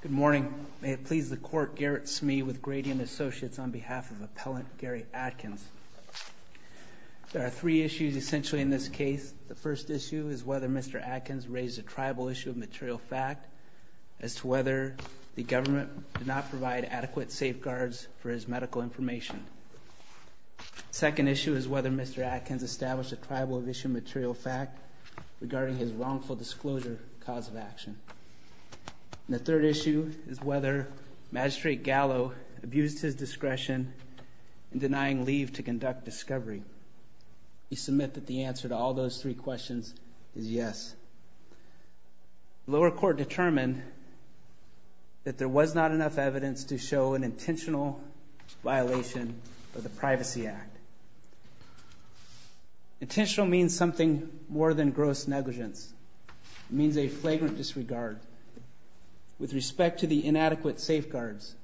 Good morning. May it please the Court, Garrett Smee with Grady and Associates on behalf of Appellant Gary Atkins. There are three issues essentially in this case. The first issue is whether Mr. Atkins raised a tribal issue of material fact as to whether the government did not provide adequate safeguards for his medical information. The second issue is whether Mr. Atkins established a tribal issue of material fact regarding his wrongful disclosure cause of action. And the third issue is whether Magistrate Gallo abused his discretion in denying leave to conduct discovery. We submit that the answer to all those three questions is yes. The lower court determined that there was not enough evidence to show an intentional violation of the Privacy Act. Intentional means something more than gross negligence. It means a flagrant disregard. With respect to the inadequate safeguards,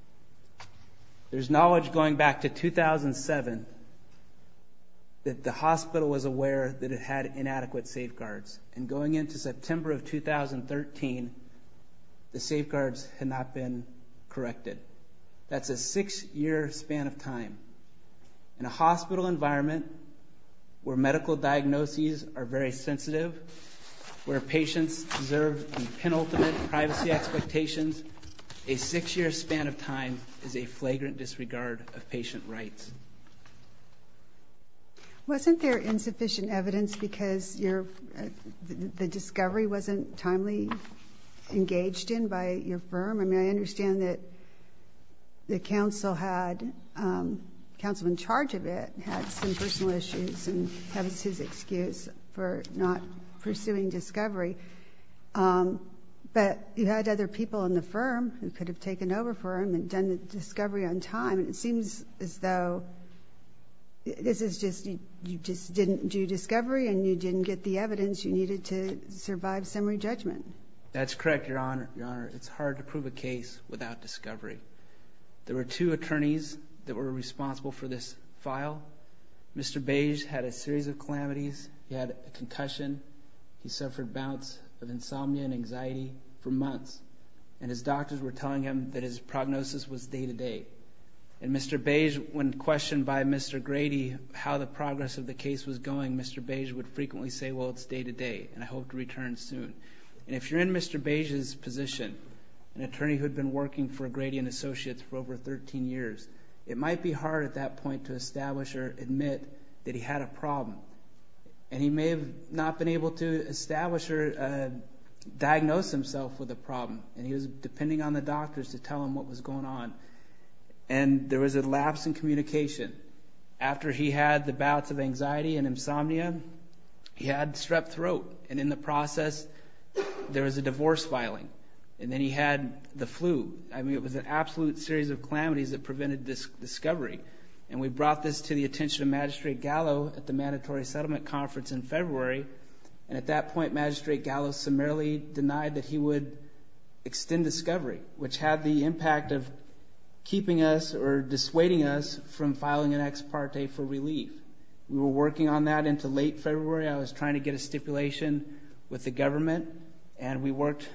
there's knowledge going back to 2007 that the hospital was aware that it had inadequate safeguards. And going into September of 2013, the safeguards had not been corrected. That's a six-year span of time. In a hospital environment where medical diagnoses are very sensitive, where patients deserve the penultimate privacy expectations, a six-year span of time is a flagrant disregard of patient rights. Wasn't there insufficient evidence because the discovery wasn't timely engaged in by your firm? I mean, I understand that the counsel in charge of it had some personal issues and that was his excuse for not pursuing discovery. But you had other people in the firm who could have taken over for him and done the discovery on time. It seems as though you just didn't do discovery and you didn't get the evidence you needed to survive summary judgment. That's correct, Your Honor. It's hard to prove a case without discovery. There were two attorneys that were responsible for this file. Mr. Beige had a series of calamities. He had a concussion. He suffered bouts of insomnia and anxiety for months. And his doctors were telling him that his prognosis was day-to-day. And Mr. Beige, when questioned by Mr. Grady how the progress of the case was going, Mr. Beige would frequently say, well, it's day-to-day and I hope to return soon. And if you're in Mr. Beige's position, an attorney who had been working for Grady and Associates for over 13 years, it might be hard at that point to establish or admit that he had a problem. And he may have not been able to establish or diagnose himself with a problem. And he was depending on the doctors to tell him what was going on. And there was a lapse in communication. After he had the bouts of anxiety and insomnia, he had strep throat. And in the process there was a divorce filing. And then he had the flu. I mean it was an absolute series of calamities that prevented discovery. And we brought this to the attention of Magistrate Gallo at the mandatory settlement conference in February. And at that point, Magistrate Gallo summarily denied that he would extend discovery, which had the impact of keeping us or dissuading us from filing an ex parte for relief. We were working on that until late February. I was trying to get a stipulation with the government. And we worked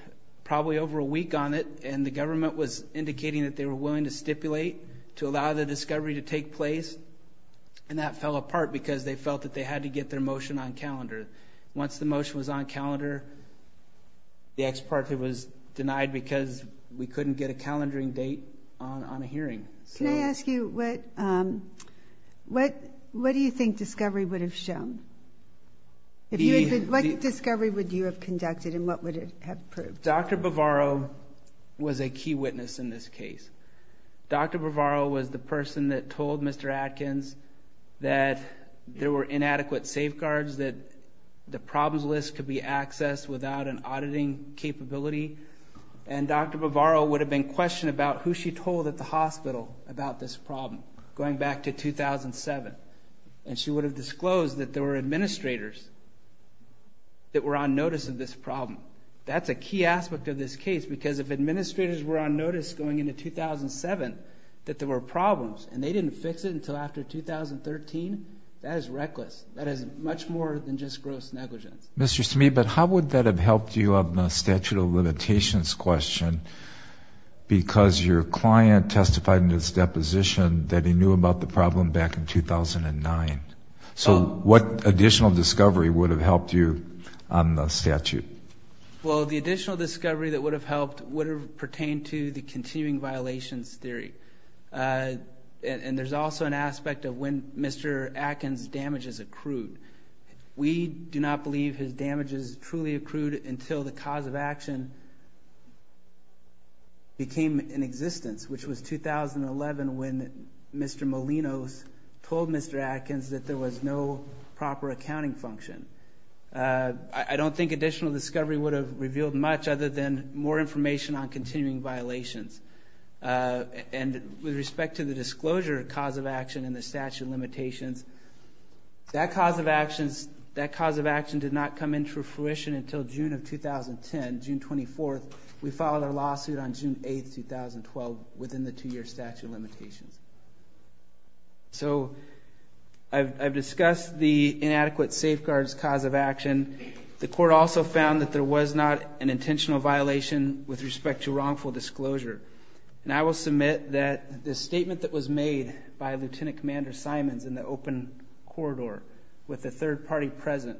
probably over a week on it. And the government was indicating that they were willing to stipulate to allow the discovery to take place. And that fell apart because they felt that they had to get their motion on calendar. Once the motion was on calendar, the ex parte was denied because we couldn't get a calendaring date on a hearing. Can I ask you what do you think discovery would have shown? What discovery would you have conducted and what would it have proved? Dr. Bavaro was a key witness in this case. Dr. Bavaro was the person that told Mr. Atkins that there were inadequate safeguards, that the problems list could be accessed without an auditing capability. And Dr. Bavaro would have been questioned about who she told at the hospital about this problem going back to 2007. And she would have disclosed that there were administrators that were on notice of this problem. That's a key aspect of this case because if administrators were on notice going into 2007 that there were problems and they didn't fix it until after 2013, that is reckless. That is much more than just gross negligence. Mr. Smee, but how would that have helped you on the statute of limitations question because your client testified in his deposition that he knew about the problem back in 2009. So what additional discovery would have helped you on the statute? Well, the additional discovery that would have helped would have pertained to the continuing violations theory. And there's also an aspect of when Mr. Atkins' damages accrued. We do not believe his damages truly accrued until the cause of action became in existence, which was 2011 when Mr. Molinos told Mr. Atkins that there was no proper accounting function. I don't think additional discovery would have revealed much other than more information on continuing violations. And with respect to the disclosure cause of action in the statute of limitations, that cause of action did not come into fruition until June of 2010, June 24th. We filed a lawsuit on June 8th, 2012 within the two-year statute of limitations. So I've discussed the inadequate safeguards cause of action. The court also found that there was not an intentional violation with respect to wrongful disclosure. And I will submit that the statement that was made by Lieutenant Commander Simons in the open corridor with the third party present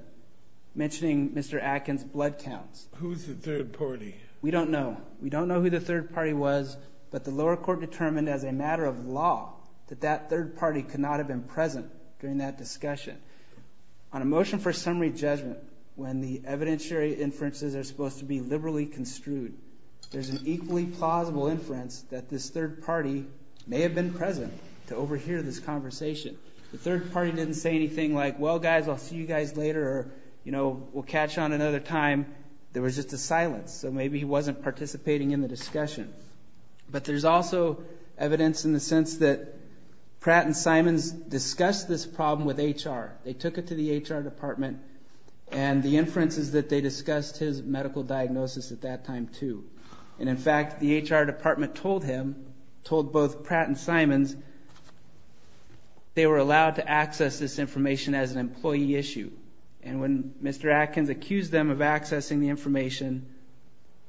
mentioning Mr. Atkins' blood counts. Who's the third party? We don't know. We don't know who the third party was. But the lower court determined as a matter of law that that third party could not have been present during that discussion. On a motion for summary judgment, when the evidentiary inferences are supposed to be liberally construed, there's an equally plausible inference that this third party may have been present to overhear this conversation. The third party didn't say anything like, well, guys, I'll see you guys later or, you know, we'll catch on another time. There was just a silence. So maybe he wasn't participating in the discussion. But there's also evidence in the sense that Pratt and Simons discussed this problem with HR. They took it to the HR department. And the inference is that they discussed his medical diagnosis at that time, too. And, in fact, the HR department told him, told both Pratt and Simons, they were allowed to access this information as an employee issue. And when Mr. Atkins accused them of accessing the information,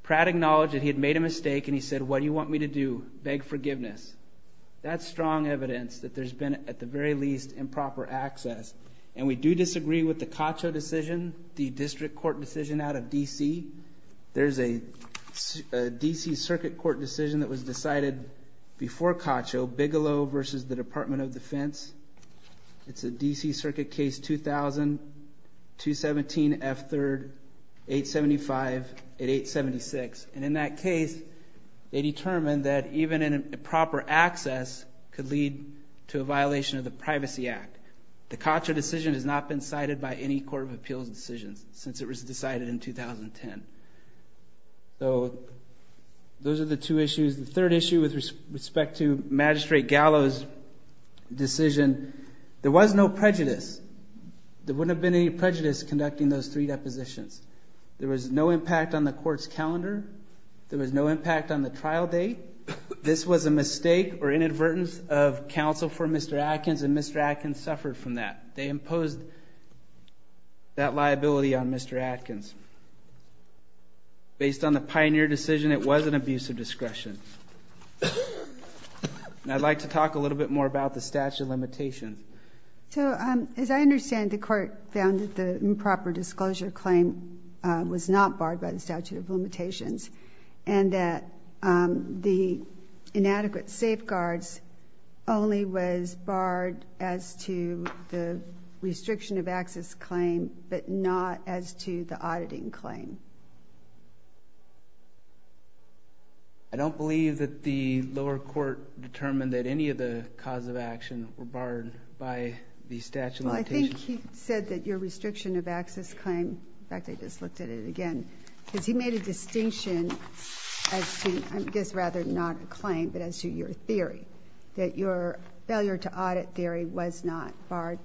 Pratt acknowledged that he had made a mistake and he said, what do you want me to do? Beg forgiveness. That's strong evidence that there's been, at the very least, improper access. And we do disagree with the Cacho decision, the district court decision out of D.C. There's a D.C. Circuit Court decision that was decided before Cacho, Bigelow versus the Department of Defense. It's a D.C. Circuit case 2000-217-F3, 875-876. And in that case, they determined that even improper access could lead to a violation of the Privacy Act. The Cacho decision has not been cited by any court of appeals decisions since it was decided in 2010. So those are the two issues. The third issue with respect to Magistrate Gallo's decision, there was no prejudice. There wouldn't have been any prejudice conducting those three depositions. There was no impact on the court's calendar. There was no impact on the trial date. This was a mistake or inadvertence of counsel for Mr. Atkins, and Mr. Atkins suffered from that. They imposed that liability on Mr. Atkins. Based on the Pioneer decision, it was an abuse of discretion. And I'd like to talk a little bit more about the statute of limitations. So as I understand, the court found that the improper disclosure claim was not barred by the statute of limitations, and that the inadequate safeguards only was barred as to the restriction of access claim, but not as to the auditing claim. I don't believe that the lower court determined that any of the causes of action were barred by the statute of limitations. Well, I think he said that your restriction of access claim, in fact, I just looked at it again, because he made a distinction as to, I guess rather not a claim, but as to your theory, that your failure to audit theory was not barred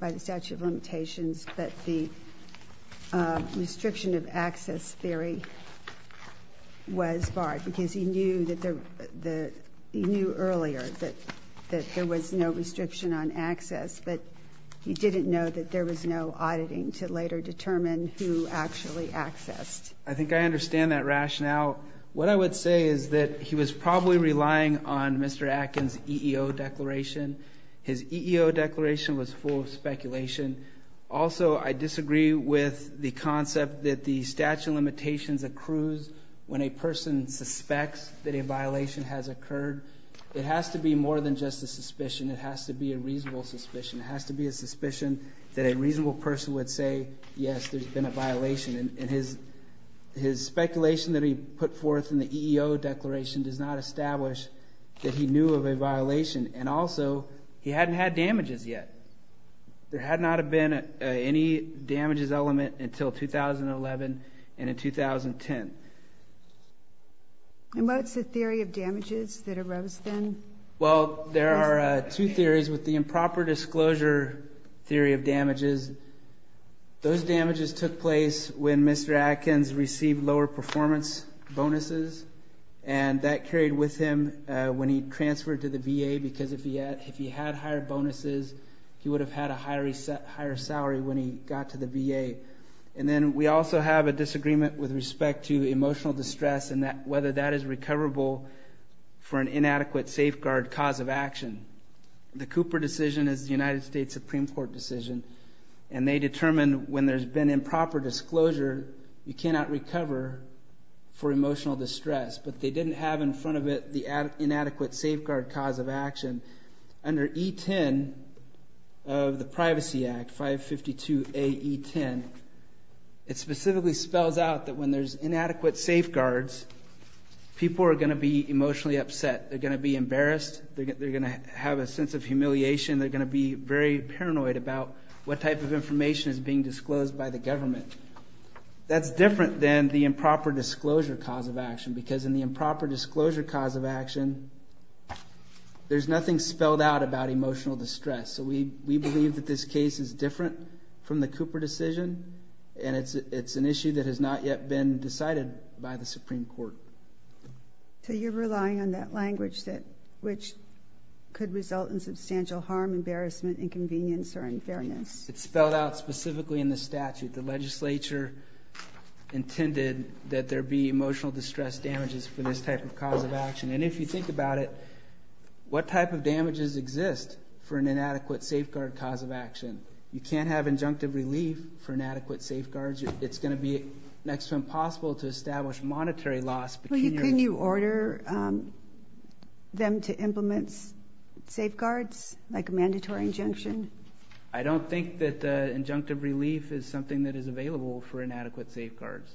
by the statute of limitations, but the restriction of access theory was barred because he knew earlier that there was no restriction on access, but he didn't know that there was no auditing to later determine who actually accessed. I think I understand that rationale. What I would say is that he was probably relying on Mr. Atkins' EEO declaration. His EEO declaration was full of speculation. Also, I disagree with the concept that the statute of limitations accrues when a person suspects that a violation has occurred. It has to be more than just a suspicion. It has to be a reasonable suspicion. It has to be a suspicion that a reasonable person would say, yes, there's been a violation. And his speculation that he put forth in the EEO declaration does not establish that he knew of a violation. And also, he hadn't had damages yet. There had not been any damages element until 2011 and in 2010. And what's the theory of damages that arose then? Well, there are two theories with the improper disclosure theory of damages. Those damages took place when Mr. Atkins received lower performance bonuses, and that carried with him when he transferred to the VA because if he had higher bonuses, he would have had a higher salary when he got to the VA. And then we also have a disagreement with respect to emotional distress and whether that is recoverable for an inadequate safeguard cause of action. The Cooper decision is the United States Supreme Court decision, and they determined when there's been improper disclosure, you cannot recover for emotional distress. But they didn't have in front of it the inadequate safeguard cause of action. Under E10 of the Privacy Act, 552AE10, it specifically spells out that when there's inadequate safeguards, people are going to be emotionally upset. They're going to be embarrassed. They're going to have a sense of humiliation. They're going to be very paranoid about what type of information is being disclosed by the government. That's different than the improper disclosure cause of action There's nothing spelled out about emotional distress. So we believe that this case is different from the Cooper decision, and it's an issue that has not yet been decided by the Supreme Court. So you're relying on that language which could result in substantial harm, embarrassment, inconvenience, or unfairness. It's spelled out specifically in the statute. The legislature intended that there be emotional distress damages for this type of cause of action. And if you think about it, what type of damages exist for an inadequate safeguard cause of action? You can't have injunctive relief for inadequate safeguards. It's going to be next to impossible to establish monetary loss. Can you order them to implement safeguards like a mandatory injunction? I don't think that injunctive relief is something that is available for inadequate safeguards.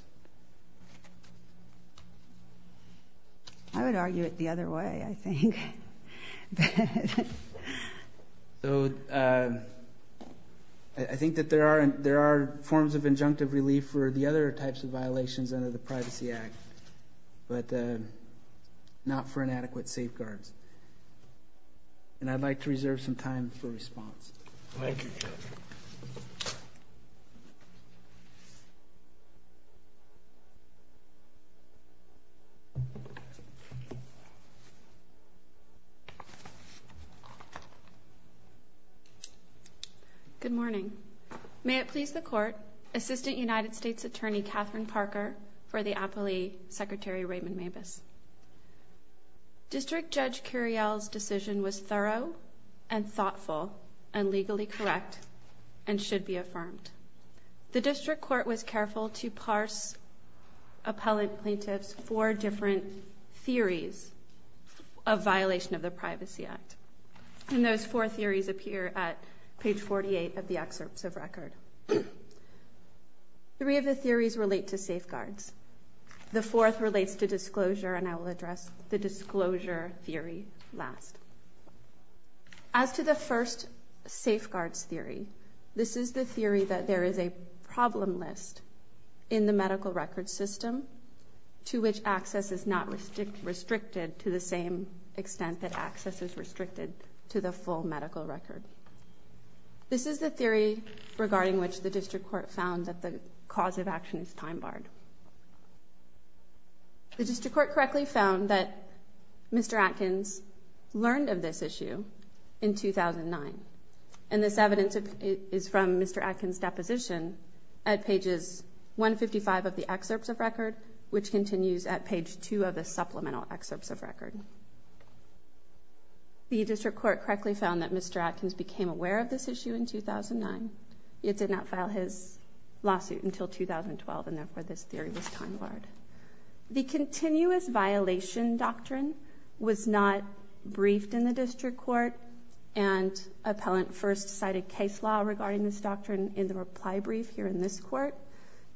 I would argue it the other way, I think. So I think that there are forms of injunctive relief for the other types of violations under the Privacy Act, but not for inadequate safeguards. And I'd like to reserve some time for response. Thank you, Judge. Good morning. May it please the Court, Assistant United States Attorney Katherine Parker for the aptly Secretary Raymond Mabus. District Judge Curiel's decision was thorough and thoughtful and legally correct and should be affirmed. The District Court was careful to parse Appellant Plaintiff's four different theories of violation of the Privacy Act. And those four theories appear at page 48 of the excerpts of record. Three of the theories relate to safeguards. The fourth relates to disclosure, and I will address the disclosure theory last. As to the first safeguards theory, this is the theory that there is a problem list in the medical record system to which access is not restricted to the same extent that access is restricted to the full medical record. This is the theory regarding which the District Court found that the cause of action is time-barred. The District Court correctly found that Mr. Atkins learned of this issue in 2009, and this evidence is from Mr. Atkins' deposition at pages 155 of the excerpts of record, which continues at page 2 of the supplemental excerpts of record. The District Court correctly found that Mr. Atkins became aware of this issue in 2009. It did not file his lawsuit until 2012, and therefore this theory was time-barred. The continuous violation doctrine was not briefed in the District Court, and Appellant first cited case law regarding this doctrine in the reply brief here in this court.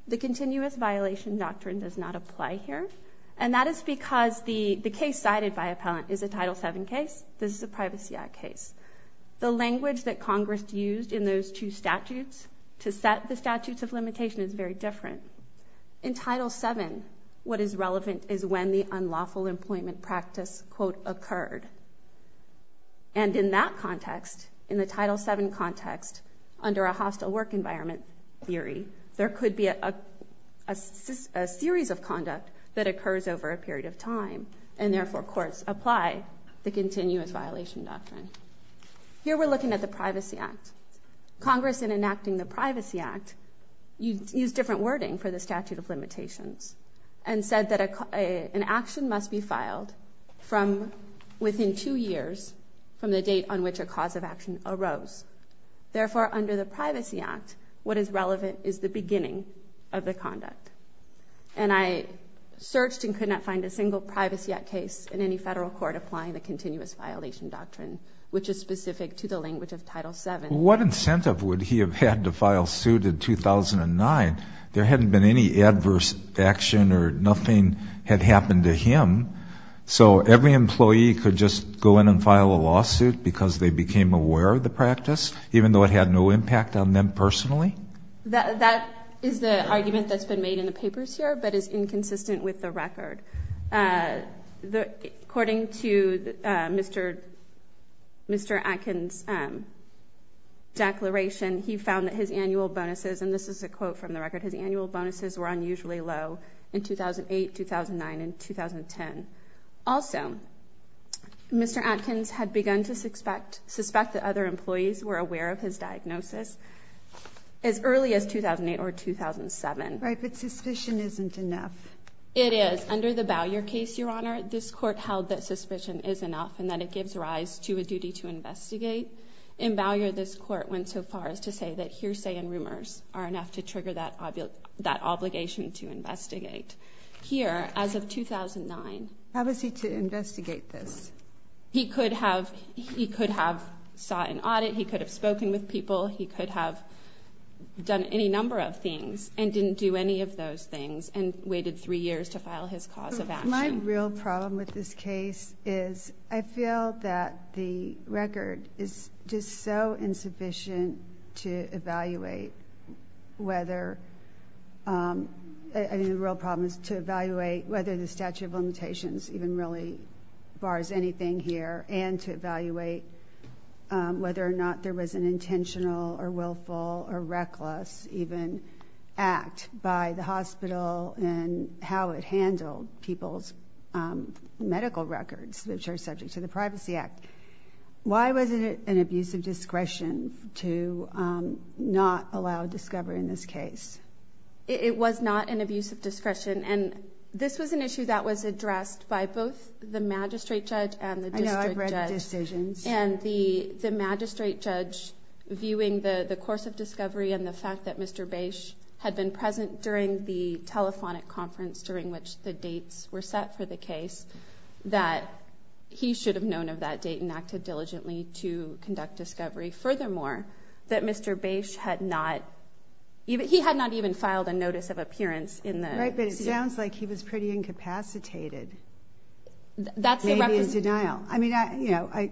The continuous violation doctrine does not apply here, and that is because the case cited by Appellant is a Title VII case. This is a Privacy Act case. The language that Congress used in those two statutes to set the statutes of limitation is very different. In Title VII, what is relevant is when the unlawful employment practice, quote, occurred. And in that context, in the Title VII context, under a hostile work environment theory, there could be a series of conduct that occurs over a period of time, and therefore courts apply the continuous violation doctrine. Here we're looking at the Privacy Act. Congress, in enacting the Privacy Act, used different wording for the statute of limitations and said that an action must be filed from within two years from the date on which a cause of action arose. Therefore, under the Privacy Act, what is relevant is the beginning of the conduct. And I searched and could not find a single Privacy Act case in any federal court applying the continuous violation doctrine, which is specific to the language of Title VII. What incentive would he have had to file suit in 2009? There hadn't been any adverse action or nothing had happened to him. So every employee could just go in and file a lawsuit because they became aware of the practice, even though it had no impact on them personally? That is the argument that's been made in the papers here but is inconsistent with the record. According to Mr. Atkins' declaration, he found that his annual bonuses, and this is a quote from the record, his annual bonuses were unusually low in 2008, 2009, and 2010. Also, Mr. Atkins had begun to suspect that other employees were aware of his diagnosis as early as 2008 or 2007. Right, but suspicion isn't enough. It is. Under the Bowyer case, Your Honor, this court held that suspicion is enough and that it gives rise to a duty to investigate. In Bowyer, this court went so far as to say that hearsay and rumors are enough to trigger that obligation to investigate. Here, as of 2009— How was he to investigate this? He could have sought an audit. He could have spoken with people. He could have done any number of things and didn't do any of those things and waited three years to file his cause of action. My real problem with this case is I feel that the record is just so insufficient to evaluate whether— I mean, the real problem is to evaluate whether the statute of limitations even really bars anything here and to evaluate whether or not there was an intentional or willful or reckless even act by the hospital and how it handled people's medical records, which are subject to the Privacy Act. Why wasn't it an abuse of discretion to not allow discovery in this case? It was not an abuse of discretion, and this was an issue that was addressed by both the magistrate judge and the district judge. I know. I've read the decisions. And the magistrate judge, viewing the course of discovery and the fact that Mr. Bache had been present during the telephonic conference during which the dates were set for the case, that he should have known of that date and acted diligently to conduct discovery. Furthermore, that Mr. Bache had not—he had not even filed a notice of appearance in the— Right, but it sounds like he was pretty incapacitated, maybe in denial. I mean, you know,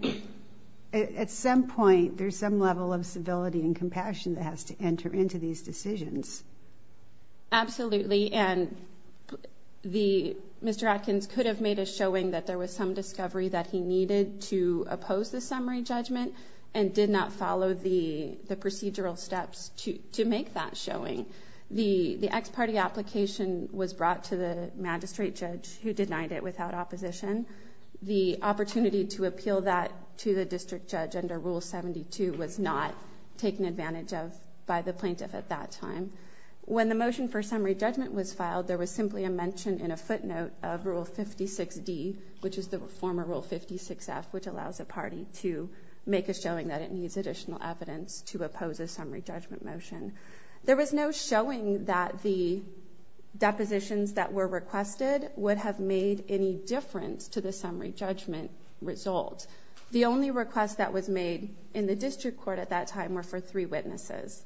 at some point there's some level of civility and compassion that has to enter into these decisions. Absolutely, and Mr. Atkins could have made a showing that there was some discovery that he needed to oppose the summary judgment and did not follow the procedural steps to make that showing. The ex parte application was brought to the magistrate judge who denied it without opposition. The opportunity to appeal that to the district judge under Rule 72 was not taken advantage of by the plaintiff at that time. When the motion for summary judgment was filed, there was simply a mention in a footnote of Rule 56D, which is the former Rule 56F, which allows a party to make a showing that it needs additional evidence to oppose a summary judgment motion. There was no showing that the depositions that were requested would have made any difference to the summary judgment result. The only request that was made in the district court at that time were for three witnesses,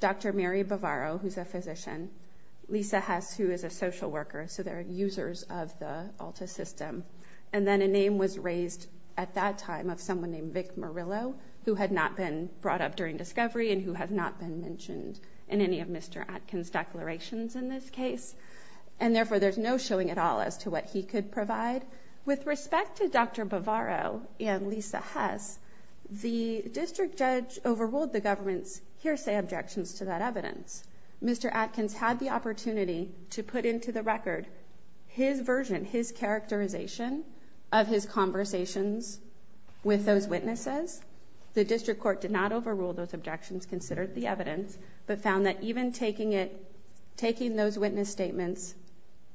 Dr. Mary Bavaro, who's a physician, Lisa Hess, who is a social worker, so they're users of the ALTA system, and then a name was raised at that time of someone named Vic Murillo, who had not been brought up during discovery and who had not been mentioned in any of Mr. Atkins' declarations in this case, and therefore there's no showing at all as to what he could provide. With respect to Dr. Bavaro and Lisa Hess, the district judge overruled the government's hearsay objections to that evidence. Mr. Atkins had the opportunity to put into the record his version, his characterization of his conversations with those witnesses. The district court did not overrule those objections, considered the evidence, but found that even taking those witness statements,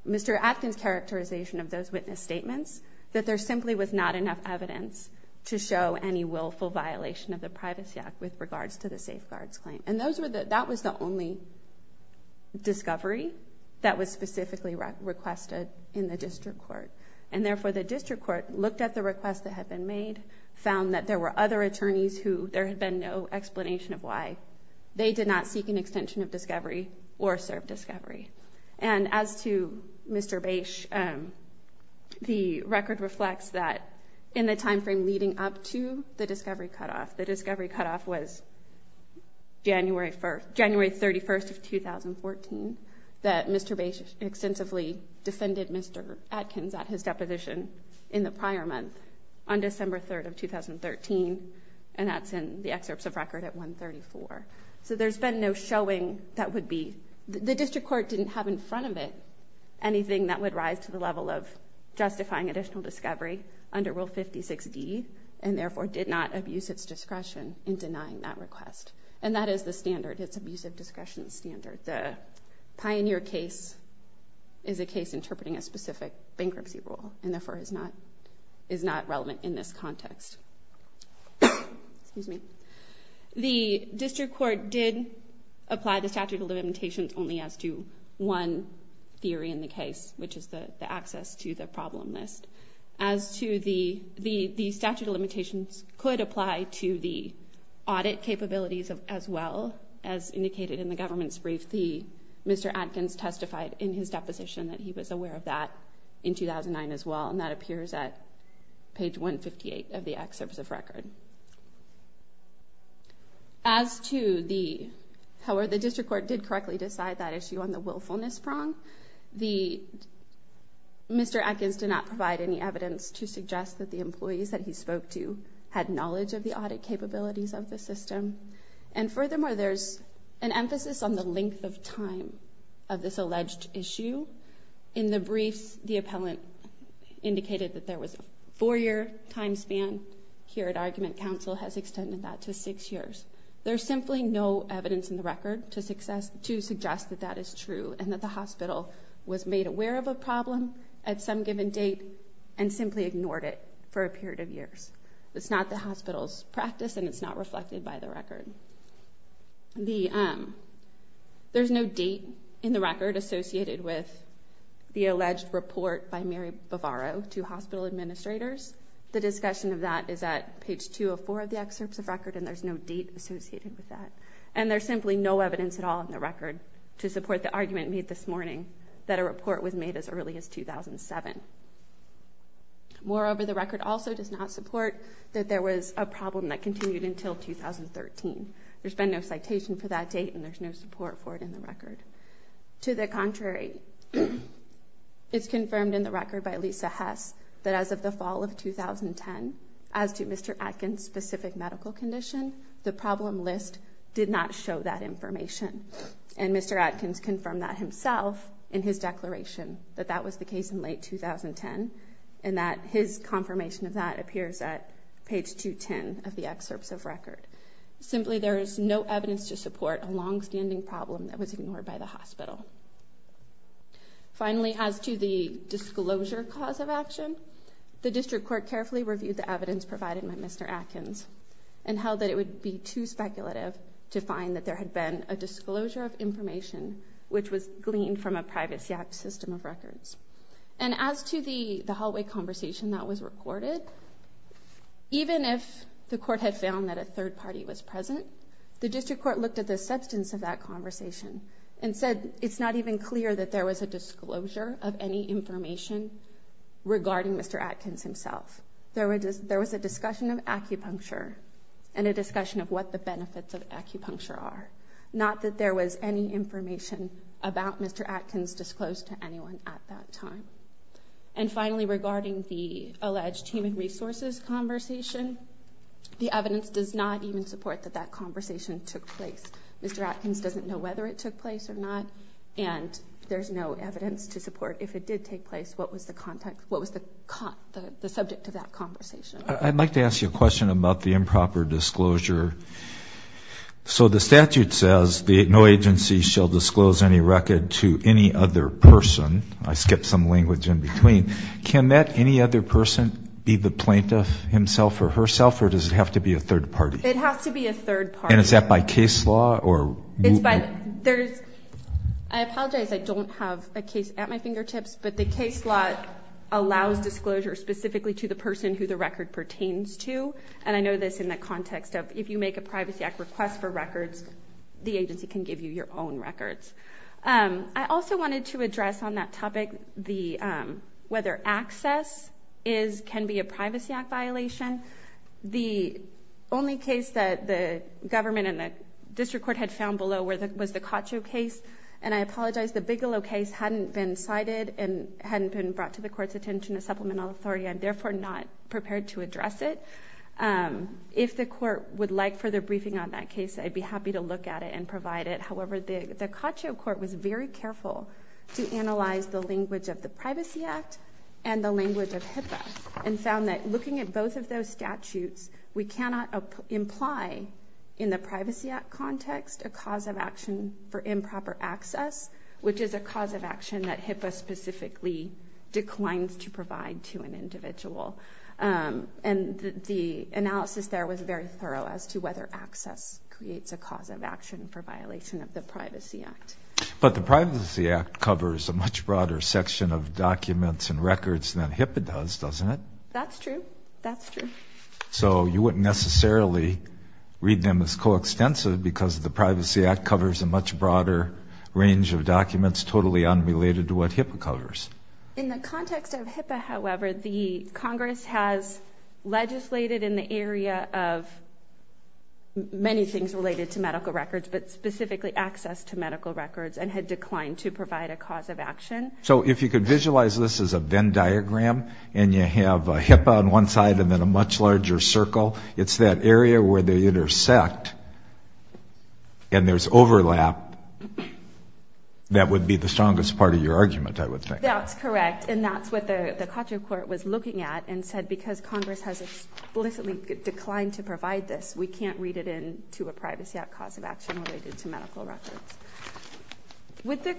Mr. Atkins' characterization of those witness statements, that there simply was not enough evidence to show any willful violation of the Privacy Act with regards to the safeguards claim. And that was the only discovery that was specifically requested in the district court, and therefore the district court looked at the requests that had been made, found that there were other attorneys who there had been no explanation of why they did not seek an extension of discovery or serve discovery. And as to Mr. Bache, the record reflects that in the time frame leading up to the discovery cutoff, the discovery cutoff was January 31st of 2014, that Mr. Bache extensively defended Mr. Atkins at his deposition in the prior month on December 3rd of 2013, and that's in the excerpts of record at 134. So there's been no showing that would be, the district court didn't have in front of it anything that would rise to the level of discretion in denying that request. And that is the standard, it's abusive discretion standard. The Pioneer case is a case interpreting a specific bankruptcy rule, and therefore is not relevant in this context. The district court did apply the statute of limitations only as to one theory in the case, which is the access to the problem list. As to the statute of limitations could apply to the audit capabilities as well, as indicated in the government's brief, Mr. Atkins testified in his deposition that he was aware of that in 2009 as well, and that appears at page 158 of the excerpts of record. As to the, however the district court did correctly decide that issue on the willfulness prong, the, Mr. Atkins did not provide any evidence to suggest that the employees that he spoke to had knowledge of the audit capabilities of the system. And furthermore, there's an emphasis on the length of time of this alleged issue. In the briefs, the appellant indicated that there was a four-year time span. Here at argument, counsel has extended that to six years. There's simply no evidence in the record to suggest that that is true, and that the hospital was made aware of a problem at some given date, and simply ignored it for a period of years. It's not the hospital's practice, and it's not reflected by the record. There's no date in the record associated with the alleged report by Mary Bavaro to hospital administrators. The discussion of that is at page 204 of the excerpts of record, and there's no date associated with that. And there's simply no evidence at all in the record to support the argument made this morning that a report was made as early as 2007. Moreover, the record also does not support that there was a problem that continued until 2013. There's been no citation for that date, and there's no support for it in the record. To the contrary, it's confirmed in the record by Lisa Hess that as of the fall of 2010, as to Mr. Atkins' specific medical condition, the problem list did not show that information. And Mr. Atkins confirmed that himself in his declaration that that was the case in late 2010, and that his confirmation of that appears at page 210 of the excerpts of record. Simply, there is no evidence to support a longstanding problem that was ignored by the hospital. Finally, as to the disclosure cause of action, the district court carefully reviewed the evidence provided by Mr. Atkins and held that it would be too speculative to find that there had been a disclosure of information which was gleaned from a privacy act system of records. And as to the hallway conversation that was recorded, even if the court had found that a third party was present, the district court looked at the substance of that conversation and said it's not even clear that there was a disclosure of any information regarding Mr. Atkins himself. There was a discussion of acupuncture and a discussion of what the benefits of acupuncture are, not that there was any information about Mr. Atkins disclosed to anyone at that time. And finally, regarding the alleged human resources conversation, the evidence does not even support that that conversation took place. Mr. Atkins doesn't know whether it took place or not, and there's no evidence to support if it did take place, what was the subject of that conversation. I'd like to ask you a question about the improper disclosure. So the statute says no agency shall disclose any record to any other person. I skipped some language in between. Can that any other person be the plaintiff himself or herself, or does it have to be a third party? It has to be a third party. And is that by case law? I apologize, I don't have a case at my fingertips, but the case law allows disclosure specifically to the person who the record pertains to. And I know this in the context of if you make a Privacy Act request for records, the agency can give you your own records. I also wanted to address on that topic whether access can be a Privacy Act violation. The only case that the government and the district court had found below was the Cacho case. And I apologize, the Bigelow case hadn't been cited and hadn't been brought to the court's attention as supplemental authority, and therefore not prepared to address it. If the court would like further briefing on that case, I'd be happy to look at it and provide it. However, the Cacho court was very careful to analyze the language of the Privacy Act and the language of HIPAA and found that looking at both of those statutes, we cannot imply in the Privacy Act context a cause of action for improper access, which is a cause of action that HIPAA specifically declines to provide to an individual. And the analysis there was very thorough as to whether access creates a cause of action for violation of the Privacy Act. But the Privacy Act covers a much broader section of documents and records than HIPAA does, doesn't it? That's true. That's true. So you wouldn't necessarily read them as coextensive because the Privacy Act covers a much broader range of documents totally unrelated to what HIPAA covers. In the context of HIPAA, however, the Congress has legislated in the area of many things related to medical records, but specifically access to medical records and had declined to provide a cause of action. So if you could visualize this as a Venn diagram and you have HIPAA on one side and then a much larger circle, it's that area where they intersect and there's overlap That would be the strongest part of your argument, I would think. That's correct. And that's what the Cochrane Court was looking at and said, because Congress has explicitly declined to provide this, we can't read it in to a Privacy Act cause of action related to medical records. Would the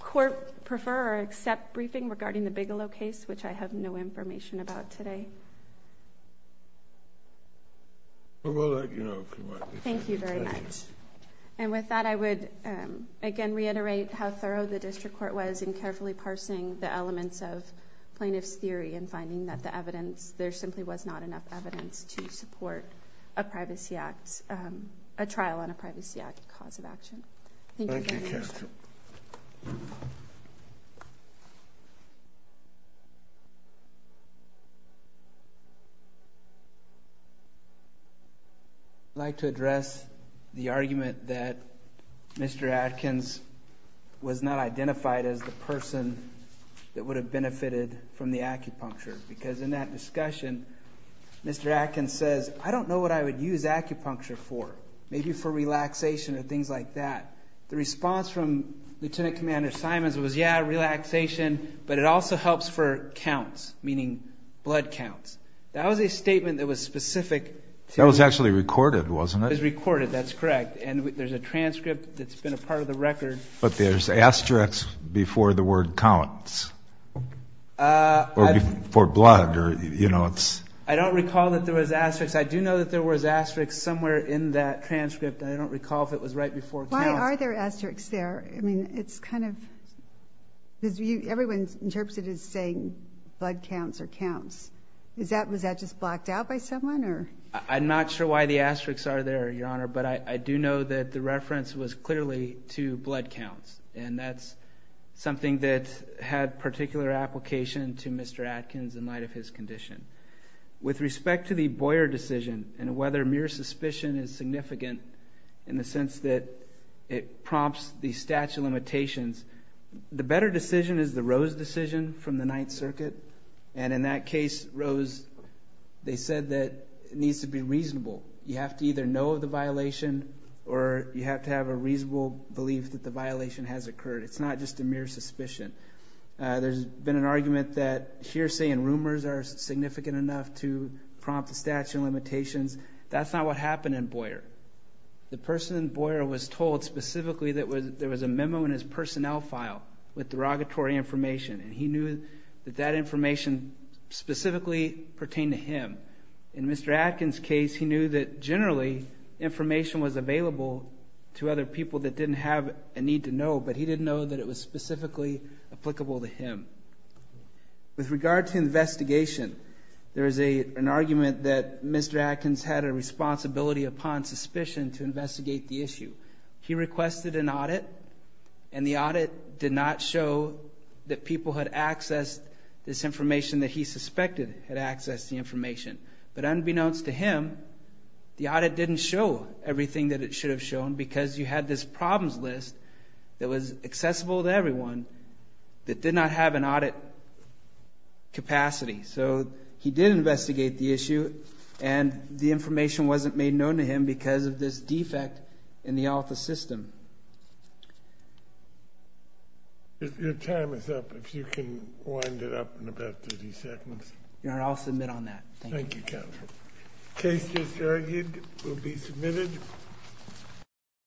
Court prefer or accept briefing regarding the Bigelow case, which I have no information about today? Thank you very much. And with that, I would again reiterate how thorough the District Court was in carefully parsing the elements of plaintiff's theory and finding that there simply was not enough evidence to support a trial on a Privacy Act cause of action. Thank you. Thank you, Counselor. I'd like to address the argument that Mr. Atkins was not identified as the person that would have benefited from the acupuncture, because in that discussion, Mr. Atkins says, I don't know what I would use acupuncture for. Maybe for relaxation or things like that. The response from Lieutenant Commander Simons was, yeah, relaxation, but it also helps for counts, meaning blood counts. That was a statement that was specific. That was actually recorded, wasn't it? It was recorded. That's correct. And there's a transcript that's been a part of the record. But there's asterisks before the word counts or before blood. I don't recall that there was asterisks. I do know that there was asterisks somewhere in that transcript. I don't recall if it was right before counts. Why are there asterisks there? I mean, it's kind of because everyone interprets it as saying blood counts or counts. Was that just blocked out by someone? I'm not sure why the asterisks are there, Your Honor, but I do know that the reference was clearly to blood counts, and that's something that had particular application to Mr. Atkins in light of his condition. With respect to the Boyer decision and whether mere suspicion is significant in the sense that it prompts the statute of limitations, the better decision is the Rose decision from the Ninth Circuit. And in that case, Rose, they said that it needs to be reasonable. You have to either know of the violation or you have to have a reasonable belief that the violation has occurred. It's not just a mere suspicion. There's been an argument that hearsay and rumors are significant enough to prompt the statute of limitations. That's not what happened in Boyer. The person in Boyer was told specifically that there was a memo in his personnel file with derogatory information, and he knew that that information specifically pertained to him. In Mr. Atkins' case, he knew that generally information was available to other people that didn't have a need to know, but he didn't know that it was specifically applicable to him. With regard to investigation, there is an argument that Mr. Atkins had a responsibility upon suspicion to investigate the issue. He requested an audit, and the audit did not show that people had accessed this information that he suspected had accessed the information. But unbeknownst to him, the audit didn't show everything that it should have shown because you had this problems list that was accessible to everyone that did not have an audit capacity. So he did investigate the issue, and the information wasn't made known to him because of this defect in the alpha system. Your time is up. If you can wind it up in about 30 seconds. Your Honor, I'll submit on that. Thank you. Thank you, counsel. Case just argued will be submitted.